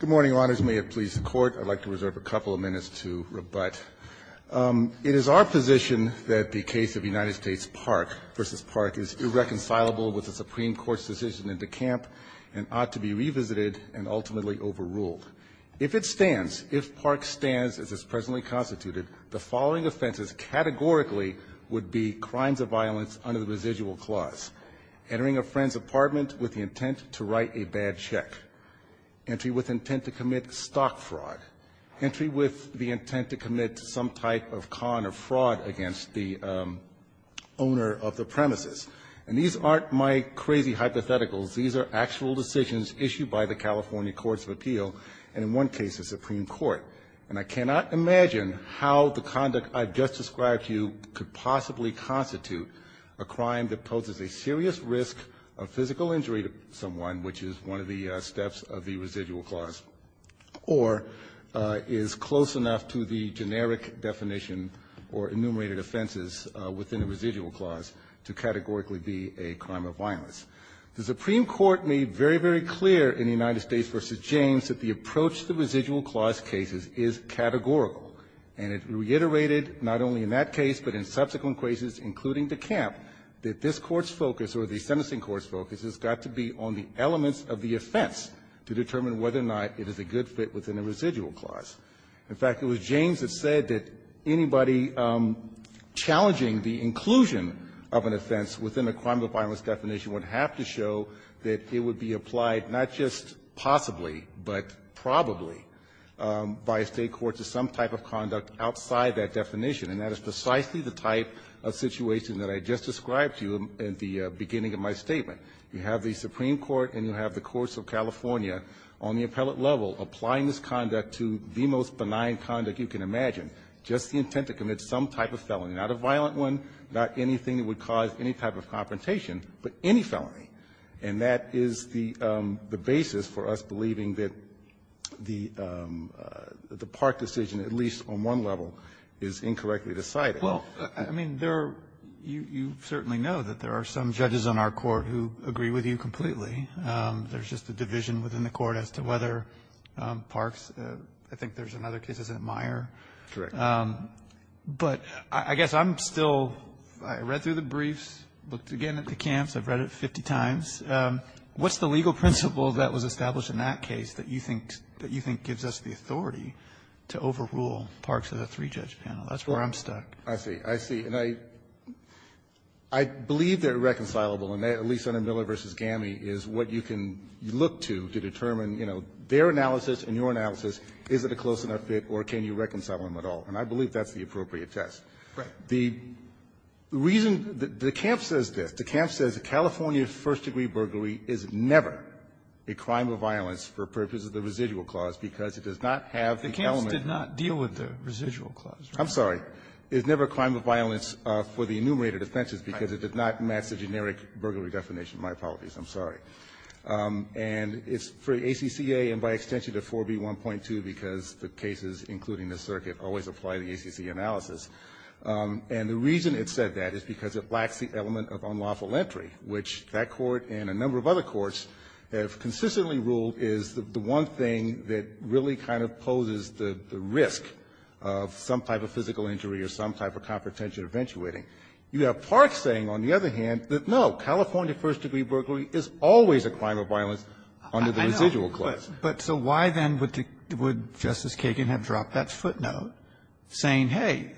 Good morning, Your Honors. May it please the Court, I'd like to reserve a couple of minutes to rebut. It is our position that the case of United States Park v. Park is irreconcilable with the Supreme Court's decision in DeKalb and ought to be revisited and ultimately overruled. If it stands, if Park stands as is presently constituted, the following offenses categorically would be crimes of violence under the residual clause, entering a friend's apartment with the intent to write a bad check, entry with intent to commit stock fraud, entry with the intent to commit some type of con or fraud against the owner of the premises. And these aren't my crazy hypotheticals. These are actual decisions issued by the California Courts of Appeal and in one case the Supreme Court. And I cannot imagine how the conduct I've just described to you could possibly constitute a crime that poses a serious risk of physical injury to someone, which is one of the steps of the residual clause, or is close enough to the generic definition or enumerated offenses within the residual clause to categorically be a crime of violence. The Supreme Court made very, very clear in United States v. James that the approach to residual clause cases is categorical. And it reiterated not only in that case, but in subsequent cases, including DeKalb, that this Court's focus or the sentencing court's focus has got to be on the elements of the offense to determine whether or not it is a good fit within a residual clause. In fact, it was James that said that anybody challenging the inclusion of an offense within a crime of violence definition would have to show that it would be applied not just possibly, but probably by a State court to some type of crime or conduct outside that definition. And that is precisely the type of situation that I just described to you at the beginning of my statement. You have the Supreme Court and you have the courts of California on the appellate level applying this conduct to the most benign conduct you can imagine, just the intent to commit some type of felony, not a violent one, not anything that would cause any type of confrontation, but any felony. And that is the basis for us believing that the Park decision at least on one level is incorrectly decided. Robertson, I mean, there are you certainly know that there are some judges on our court who agree with you completely. There's just a division within the court as to whether Park's, I think there's another case, isn't it, Meyer? Correct. But I guess I'm still, I read through the briefs, looked again at the camps. I've read it 50 times. What's the legal principle that was established in that case that you think that you can't rule Park's as a three-judge panel? That's where I'm stuck. I see. I see. And I believe that reconcilable, at least on Miller v. Gammey, is what you can look to to determine, you know, their analysis and your analysis, is it a close enough fit or can you reconcile them at all? And I believe that's the appropriate test. Right. The reason the camp says this, the camp says California's first-degree burglary is never a crime of violence for purposes of the residual clause because it does not have the element. It did not deal with the residual clause, right? I'm sorry. It's never a crime of violence for the enumerated offenses because it did not match the generic burglary definition. My apologies. I'm sorry. And it's for the ACCA and by extension to 4b.1.2 because the cases, including the circuit, always apply the ACC analysis. And the reason it said that is because it lacks the element of unlawful entry, which that Court and a number of other courts have consistently ruled is the one thing that really kind of poses the risk of some type of physical injury or some type of confidential eventuating. You have Park saying, on the other hand, that, no, California first-degree burglary is always a crime of violence under the residual clause. But so why, then, would Justice Kagan have dropped that footnote saying, hey,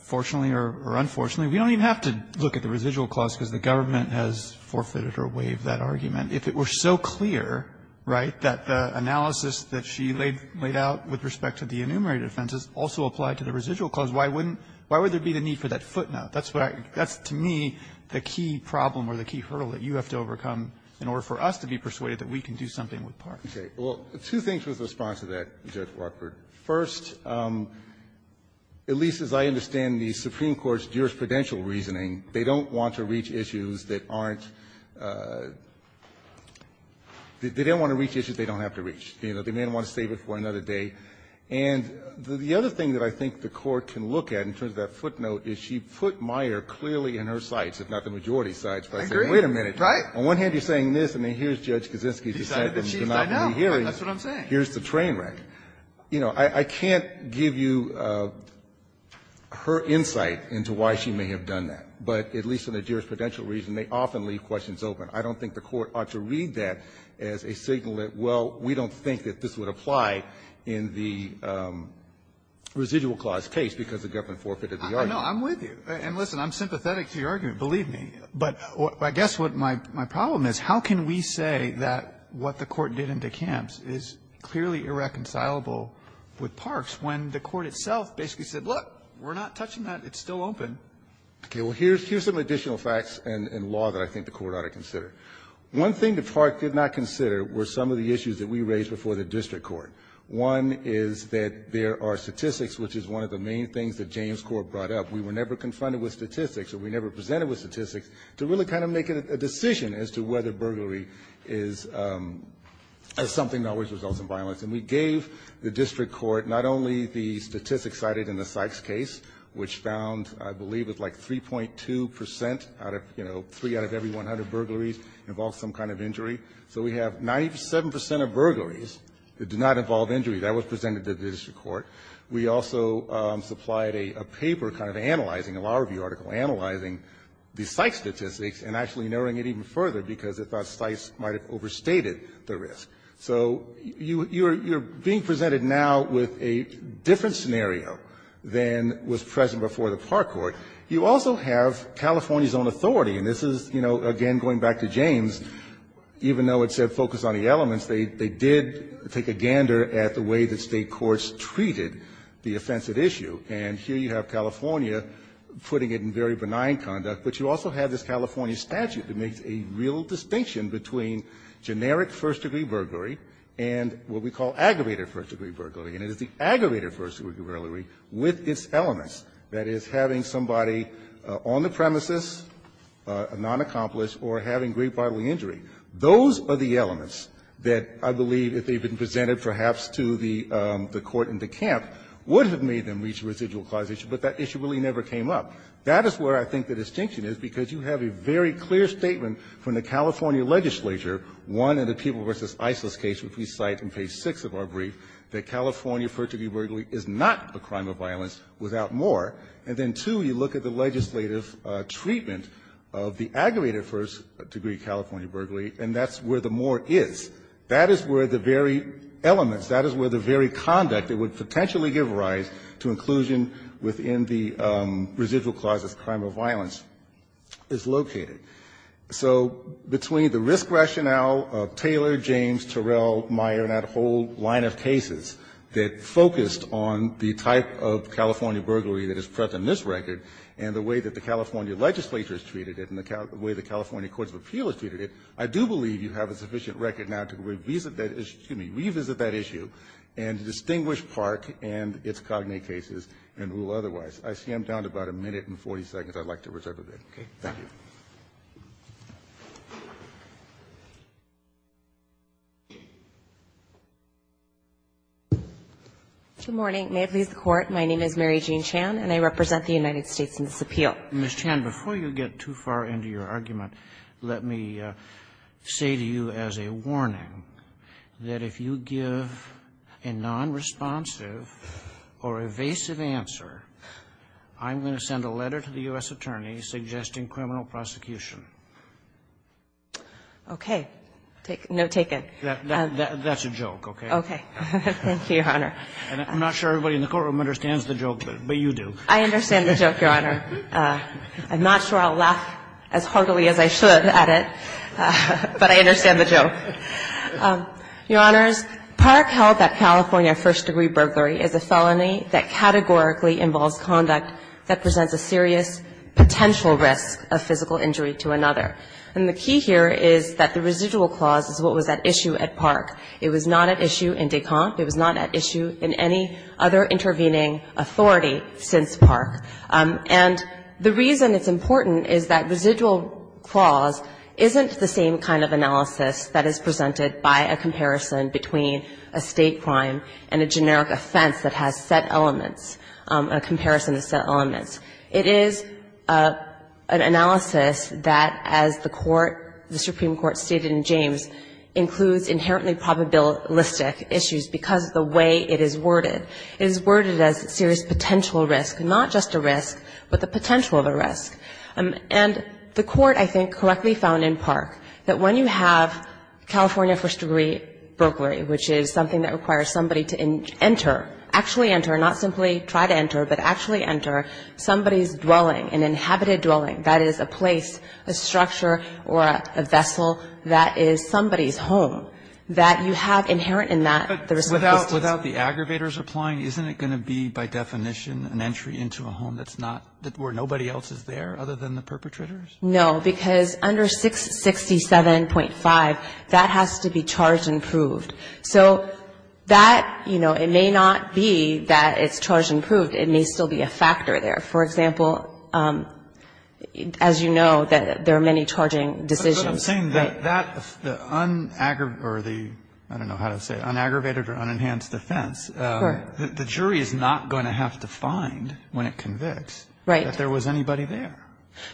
fortunately or unfortunately, we don't even have to look at the residual clause because the government has forfeited or waived that argument if it were so clear, right, that the analysis that she laid out with respect to the enumerated offenses also applied to the residual clause? Why wouldn't why would there be the need for that footnote? That's what I that's, to me, the key problem or the key hurdle that you have to overcome in order for us to be persuaded that we can do something with Park. Okay. Well, two things with response to that, Judge Rockford. First, at least as I understand the Supreme Court's jurisprudential reasoning, they don't want to reach issues that aren't they don't want to reach issues they don't have to reach. You know, they may want to save it for another day. And the other thing that I think the Court can look at in terms of that footnote is she put Meyer clearly in her sights, if not the majority's sights, by saying, wait a minute, on one hand, you're saying this, I mean, here's Judge Kaczynski's dissent, and you're not really hearing it. That's what I'm saying. Here's the train wreck. You know, I can't give you her insight into why she may have done that. But at least in the jurisprudential reason, they often leave questions open. I don't think the Court ought to read that as a signal that, well, we don't think that this would apply in the residual clause case because the government forfeited the argument. I know. I'm with you. And listen, I'm sympathetic to your argument, believe me. But I guess what my problem is, how can we say that what the Court did in DeKamps is clearly irreconcilable with Parks when the Court itself basically said, look, we're not touching that. It's still open. Okay. Well, here's some additional facts and law that I think the Court ought to consider. One thing that Parks did not consider were some of the issues that we raised before the district court. One is that there are statistics, which is one of the main things that James Court brought up. We were never confronted with statistics, or we never presented with statistics, to really kind of make a decision as to whether burglary is something that always results in violence. And we gave the district court not only the statistics cited in the Sykes case, which found, I believe, it was like 3.2 percent out of, you know, three out of every 100 burglaries involved some kind of injury. So we have 97 percent of burglaries that do not involve injury. That was presented to the district court. We also supplied a paper kind of analyzing, a law review article analyzing the Sykes statistics and actually narrowing it even further because they thought Sykes might have overstated the risk. So you're being presented now with a different scenario than was present before the Park Court. You also have California's own authority, and this is, you know, again, going back to James, even though it said focus on the elements, they did take a gander at the way that State courts treated the offensive issue. And here you have California putting it in very benign conduct, but you also have this California statute that makes a real distinction between generic first-degree burglary and what we call aggravated first-degree burglary. And it is the aggravated first-degree burglary with its elements, that is, having somebody on the premises, a non-accomplice, or having great bodily injury. Those are the elements that I believe, if they had been presented perhaps to the court in DeKalb, would have made them reach a residual-clause issue, but that issue really never came up. That is where I think the distinction is, because you have a very clear statement from the California legislature, one, in the People v. Isis case, which we cite in page 6 of our brief, that California first-degree burglary is not a crime of violence without more. And then, two, you look at the legislative treatment of the aggravated first-degree California burglary, and that's where the more is. That is where the very elements, that is where the very conduct that would potentially give rise to inclusion within the residual-clause as a crime of violence is located. So between the risk rationale of Taylor, James, Terrell, Meyer, and that whole line of cases that focused on the type of California burglary that is present in this record, and the way that the California legislature has treated it, and the way the California courts of appeal has treated it, I do believe you have a sufficient record now to revisit that issue and to distinguish Park and its cognate cases and rule otherwise. I see I'm down to about a minute and 40 seconds. I'd like to reserve a minute. Robertson, Jr. Good morning. May it please the Court. My name is Mary Jean Chan, and I represent the United States in this appeal. Roberts, Jr. Ms. Chan, before you get too far into your argument, let me say to you as a warning that if you give a nonresponsive or evasive answer, I'm going to send a letter to the U.S. attorney suggesting criminal prosecution. Okay. No, take it. That's a joke, okay? Okay. Thank you, Your Honor. I'm not sure everybody in the courtroom understands the joke, but you do. I understand the joke, Your Honor. I'm not sure I'll laugh as heartily as I should at it, but I understand the joke. Your Honors, Park held that California first-degree burglary is a felony that categorically involves conduct that presents a serious potential risk of physical injury to another. And the key here is that the residual clause is what was at issue at Park. It was not at issue in Descamps. It was not at issue in any other intervening authority since Park. And the reason it's important is that residual clause isn't the same kind of analysis that is presented by a comparison between a state crime and a generic offense that has set elements, a comparison of set elements. It is an analysis that, as the court, the Supreme Court stated in James, includes inherently probabilistic issues because of the way it is worded. It is worded as serious potential risk, not just a risk, but the potential of a risk. And the court, I think, correctly found in Park that when you have California first-degree burglary, which is something that requires somebody to enter, actually enter, not simply try to enter, but actually enter, somebody's dwelling, an inhabited dwelling, that is, a place, a structure, or a vessel that is somebody's home, that you have inherent in that the residuals. But without the aggravators applying, isn't it going to be, by definition, an entry into a home that's not, where nobody else is there other than the perpetrators? No, because under 667.5, that has to be charged and proved. So that, you know, it may not be that it's charged and proved. It may still be a factor there. For example, as you know, there are many charging decisions. But I'm saying that the un-aggravated, or the, I don't know how to say it, un-aggravated or un-enhanced offense, the jury is not going to have to find, when it convicts, that there was anybody there.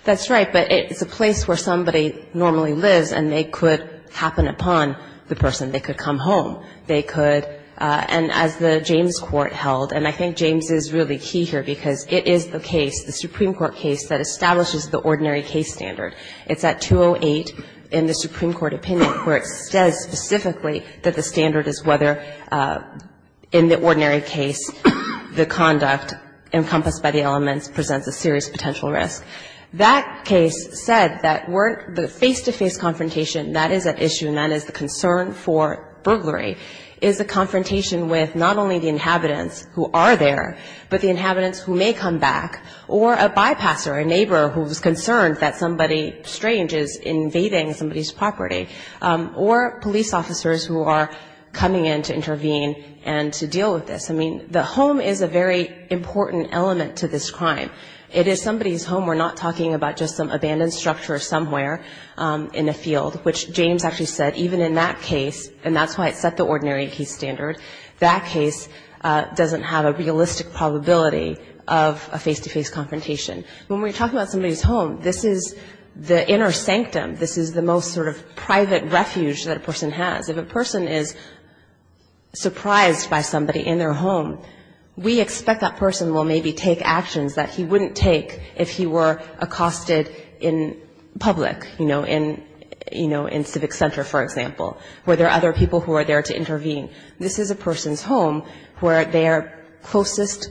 That's right. But it's a place where somebody normally lives, and they could happen upon the person. They could come home. They could, and as the James Court held, and I think James is really key here, because it is the case, the Supreme Court case, that establishes the ordinary case standard. It's at 208 in the Supreme Court opinion where it says specifically that the standard is whether, in the ordinary case, the conduct encompassed by the elements presents a serious potential risk. That case said that the face-to-face confrontation, that is at issue, and that is the concern for burglary, is a confrontation with not only the inhabitants who are there, but the inhabitants who may come back, or a bypasser, a neighbor who's concerned that somebody strange is invading somebody's property, or police officers who are coming in to intervene and to deal with this. I mean, the home is a very important element to this crime. It is somebody's home. We're not talking about just some abandoned structure somewhere in a field, which James actually said, even in that case, and that's why it set the ordinary case standard, that case doesn't have a realistic probability of a face-to-face confrontation. When we're talking about somebody's home, this is the inner sanctum. This is the most sort of private refuge that a person has. If a person is surprised by somebody in their home, we expect that person will maybe take actions that he wouldn't take if he were accosted in public, you know, in Civic Center, for example, where there are other people who are there to intervene. This is a person's home where their closest,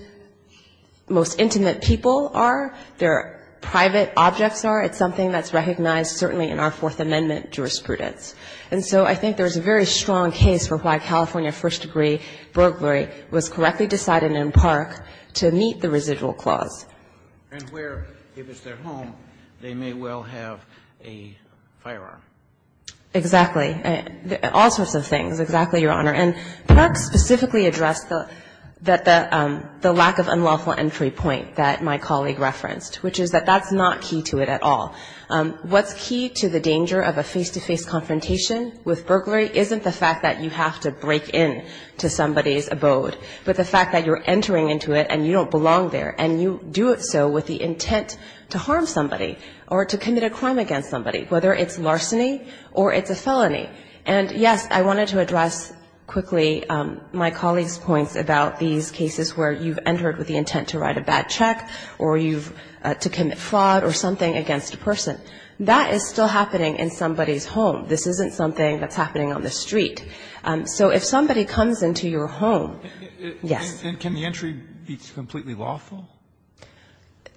most intimate people are, their private objects are. It's something that's recognized certainly in our Fourth Amendment jurisprudence. And so I think there's a very strong case for why California first-degree burglary was correctly decided in Park to meet the residual clause. And where, if it's their home, they may well have a firearm. Exactly. All sorts of things, exactly, Your Honor. And Park specifically addressed the lack of unlawful entry point that my colleague referenced, which is that that's not key to it at all. What's key to the danger of a face-to-face confrontation with burglary isn't the fact that you have to break into somebody's abode, but the fact that you're entering into it and you don't belong there, and you do it so with the intent to harm somebody or to commit a crime against somebody, whether it's larceny or it's a felony. And, yes, I wanted to address quickly my colleague's points about these cases where you've entered with the intent to write a bad check or you've, to commit fraud or something against a person. That is still happening in somebody's home. This isn't something that's happening on the street. So if somebody comes into your home, yes. And can the entry be completely lawful?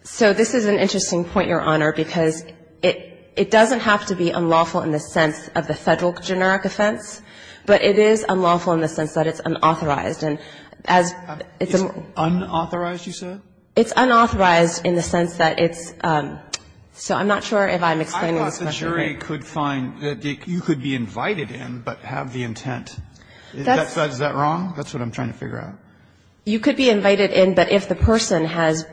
So this is an interesting point, Your Honor, because it doesn't have to be unlawful in the sense of the Federal generic offense, but it is unlawful in the sense that it's unauthorized. And as it's a more unauthorized, you said? It's unauthorized in the sense that it's so I'm not sure if I'm explaining this question. I thought the jury could find that you could be invited in, but have the intent. Is that wrong? That's what I'm trying to figure out. You could be invited in, but if the person has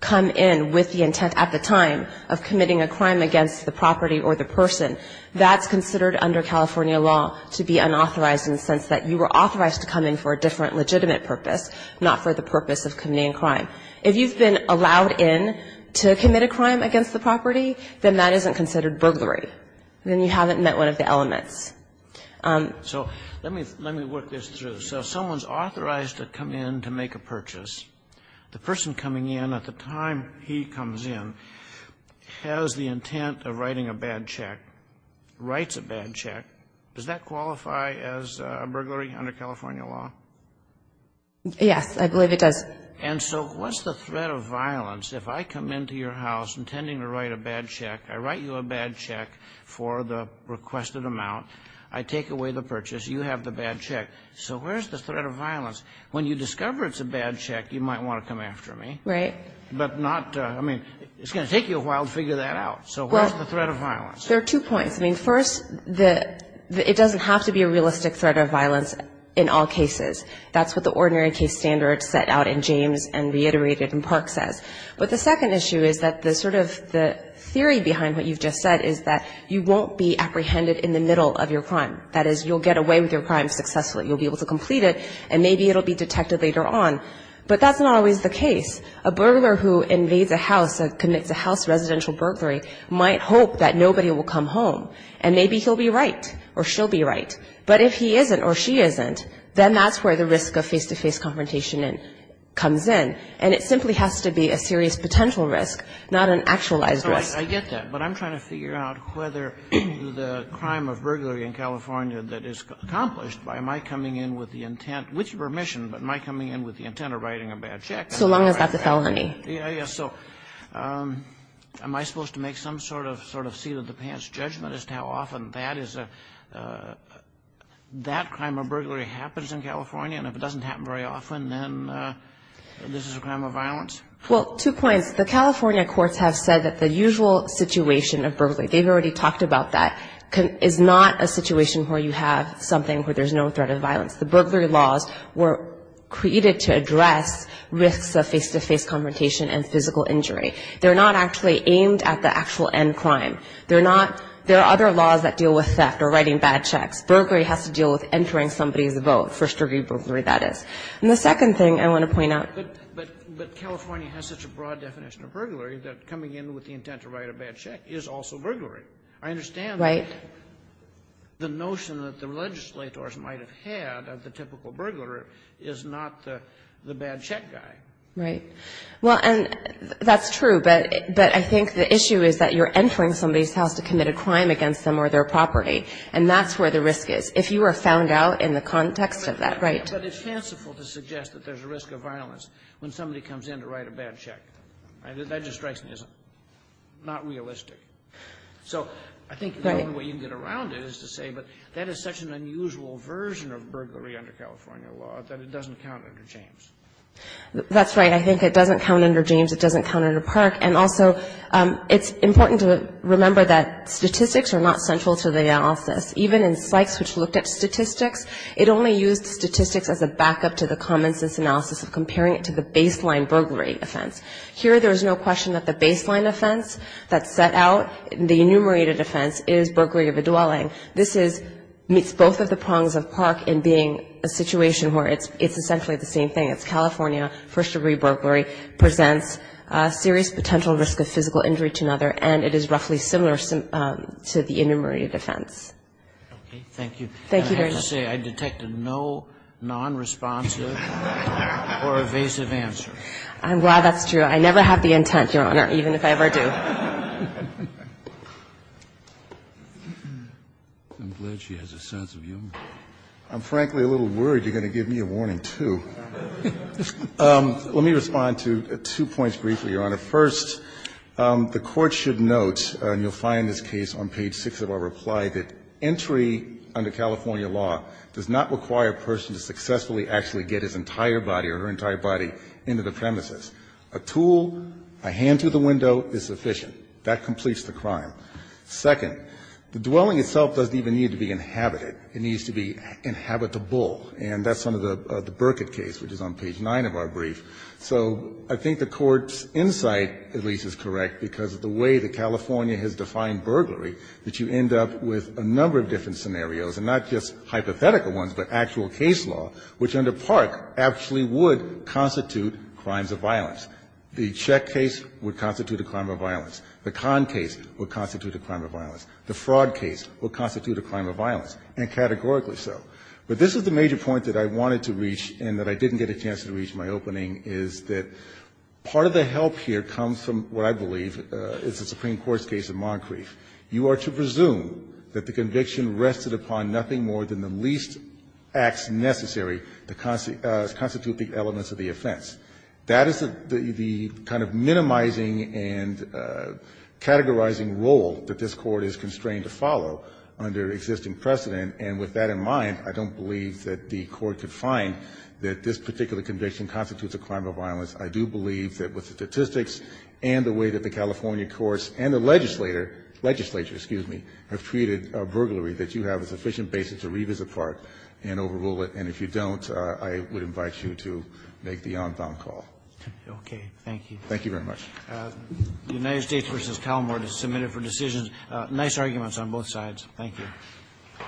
come in with the intent at the time of committing a crime against the property or the person, that's considered under California law to be unauthorized in the sense that you were authorized to come in for a different legitimate purpose, not for the purpose of committing a crime. If you've been allowed in to commit a crime against the property, then that isn't considered burglary. Then you haven't met one of the elements. So let me work this through. So someone's authorized to come in to make a purchase. The person coming in at the time he comes in has the intent of writing a bad check, writes a bad check. Does that qualify as a burglary under California law? Yes, I believe it does. And so what's the threat of violence if I come into your house intending to write a bad check? I write you a bad check for the requested amount. I take away the purchase. You have the bad check. So where's the threat of violence? When you discover it's a bad check, you might want to come after me. Right. But not to – I mean, it's going to take you a while to figure that out. So where's the threat of violence? There are two points. I mean, first, the – it doesn't have to be a realistic threat of violence in all cases. That's what the ordinary case standard set out in James and reiterated in Park says. But the second issue is that the sort of – the theory behind what you've just said is that you won't be apprehended in the middle of your crime. That is, you'll get away with your crime successfully. You'll be able to complete it, and maybe it'll be detected later on. But that's not always the case. A burglar who invades a house, commits a house residential burglary, might hope that nobody will come home. And maybe he'll be right or she'll be right. But if he isn't or she isn't, then that's where the risk of face-to-face confrontation comes in. And it simply has to be a serious potential risk, not an actualized risk. So I get that, but I'm trying to figure out whether the crime of burglary in California that is accomplished by my coming in with the intent – with your permission, but my coming in with the intent of writing a bad check. So long as that's a felony. Yeah, yeah. So am I supposed to make some sort of seat-of-the-pants judgment as to how often that is a – that crime of burglary happens in California, and if it doesn't happen very often, then this is a crime of violence? Well, two points. The California courts have said that the usual situation of burglary – they've already talked about that – is not a situation where you have something where there's no threat of violence. The burglary laws were created to address risks of face-to-face confrontation and physical injury. They're not actually aimed at the actual end crime. They're not – there are other laws that deal with theft or writing bad checks. Burglary has to deal with entering somebody's vote, first-degree burglary, that is. And the second thing I want to point out – But California has such a broad definition of burglary that coming in with the intent to write a bad check is also burglary. I understand that the notion that the legislators might have had of the typical burglar is not the bad-check guy. Right. Well, and that's true, but I think the issue is that you're entering somebody's house to commit a crime against them or their property, and that's where the risk is, if you are found out in the context of that. Right. But it's fanciful to suggest that there's a risk of violence when somebody comes in to write a bad check. That just strikes me as not realistic. So I think the only way you can get around it is to say, but that is such an unusual version of burglary under California law that it doesn't count under James. That's right. I think it doesn't count under James. It doesn't count under Park. And also, it's important to remember that statistics are not central to the analysis. Even in Sykes, which looked at statistics, it only used statistics as a backup to the common-sense analysis of comparing it to the baseline burglary offense. Here, there's no question that the baseline offense that's set out, the enumerated offense, is burglary of a dwelling. This is, meets both of the prongs of Park in being a situation where it's essentially the same thing. It's California, first-degree burglary, presents a serious potential risk of physical injury to another, and it is roughly similar to the enumerated offense. Okay. Thank you. Thank you, Your Honor. I have to say, I detected no non-responsive or evasive answer. I'm glad that's true. I never have the intent, Your Honor, even if I ever do. I'm glad she has a sense of humor. I'm frankly a little worried you're going to give me a warning, too. Let me respond to two points briefly, Your Honor. First, the Court should note, and you'll find this case on page 6 of our reply, that entry under California law does not require a person to successfully actually get his entire body or her entire body into the premises. A tool, a hand through the window, is sufficient. That completes the crime. Second, the dwelling itself doesn't even need to be inhabited. It needs to be inhabitable, and that's under the Burkitt case, which is on page 9 of our brief. So I think the Court's insight, at least, is correct, because of the way that California has defined burglary, that you end up with a number of different scenarios, and not just hypothetical ones, but actual case law, which under Park actually would constitute crimes of violence. The Czech case would constitute a crime of violence. The Kahn case would constitute a crime of violence. The fraud case would constitute a crime of violence, and categorically so. But this is the major point that I wanted to reach and that I didn't get a chance to reach in my opening, is that part of the help here comes from what I believe is the Supreme Court's case in Moncrief. You are to presume that the conviction rested upon nothing more than the least acts necessary to constitute the elements of the offense. That is the kind of minimizing and categorizing role that this Court is constrained to follow under existing precedent, and with that in mind, I don't believe that the Court could find that this particular conviction constitutes a crime of violence. I do believe that with the statistics and the way that the California courts and the legislature, excuse me, have treated burglary, that you have a sufficient basis to revisit Park and overrule it, and if you don't, I would invite you to make the on-bound call. Okay. Thank you. Thank you very much. The United States v. Calamart is submitted for decision. Nice arguments on both sides. Thank you.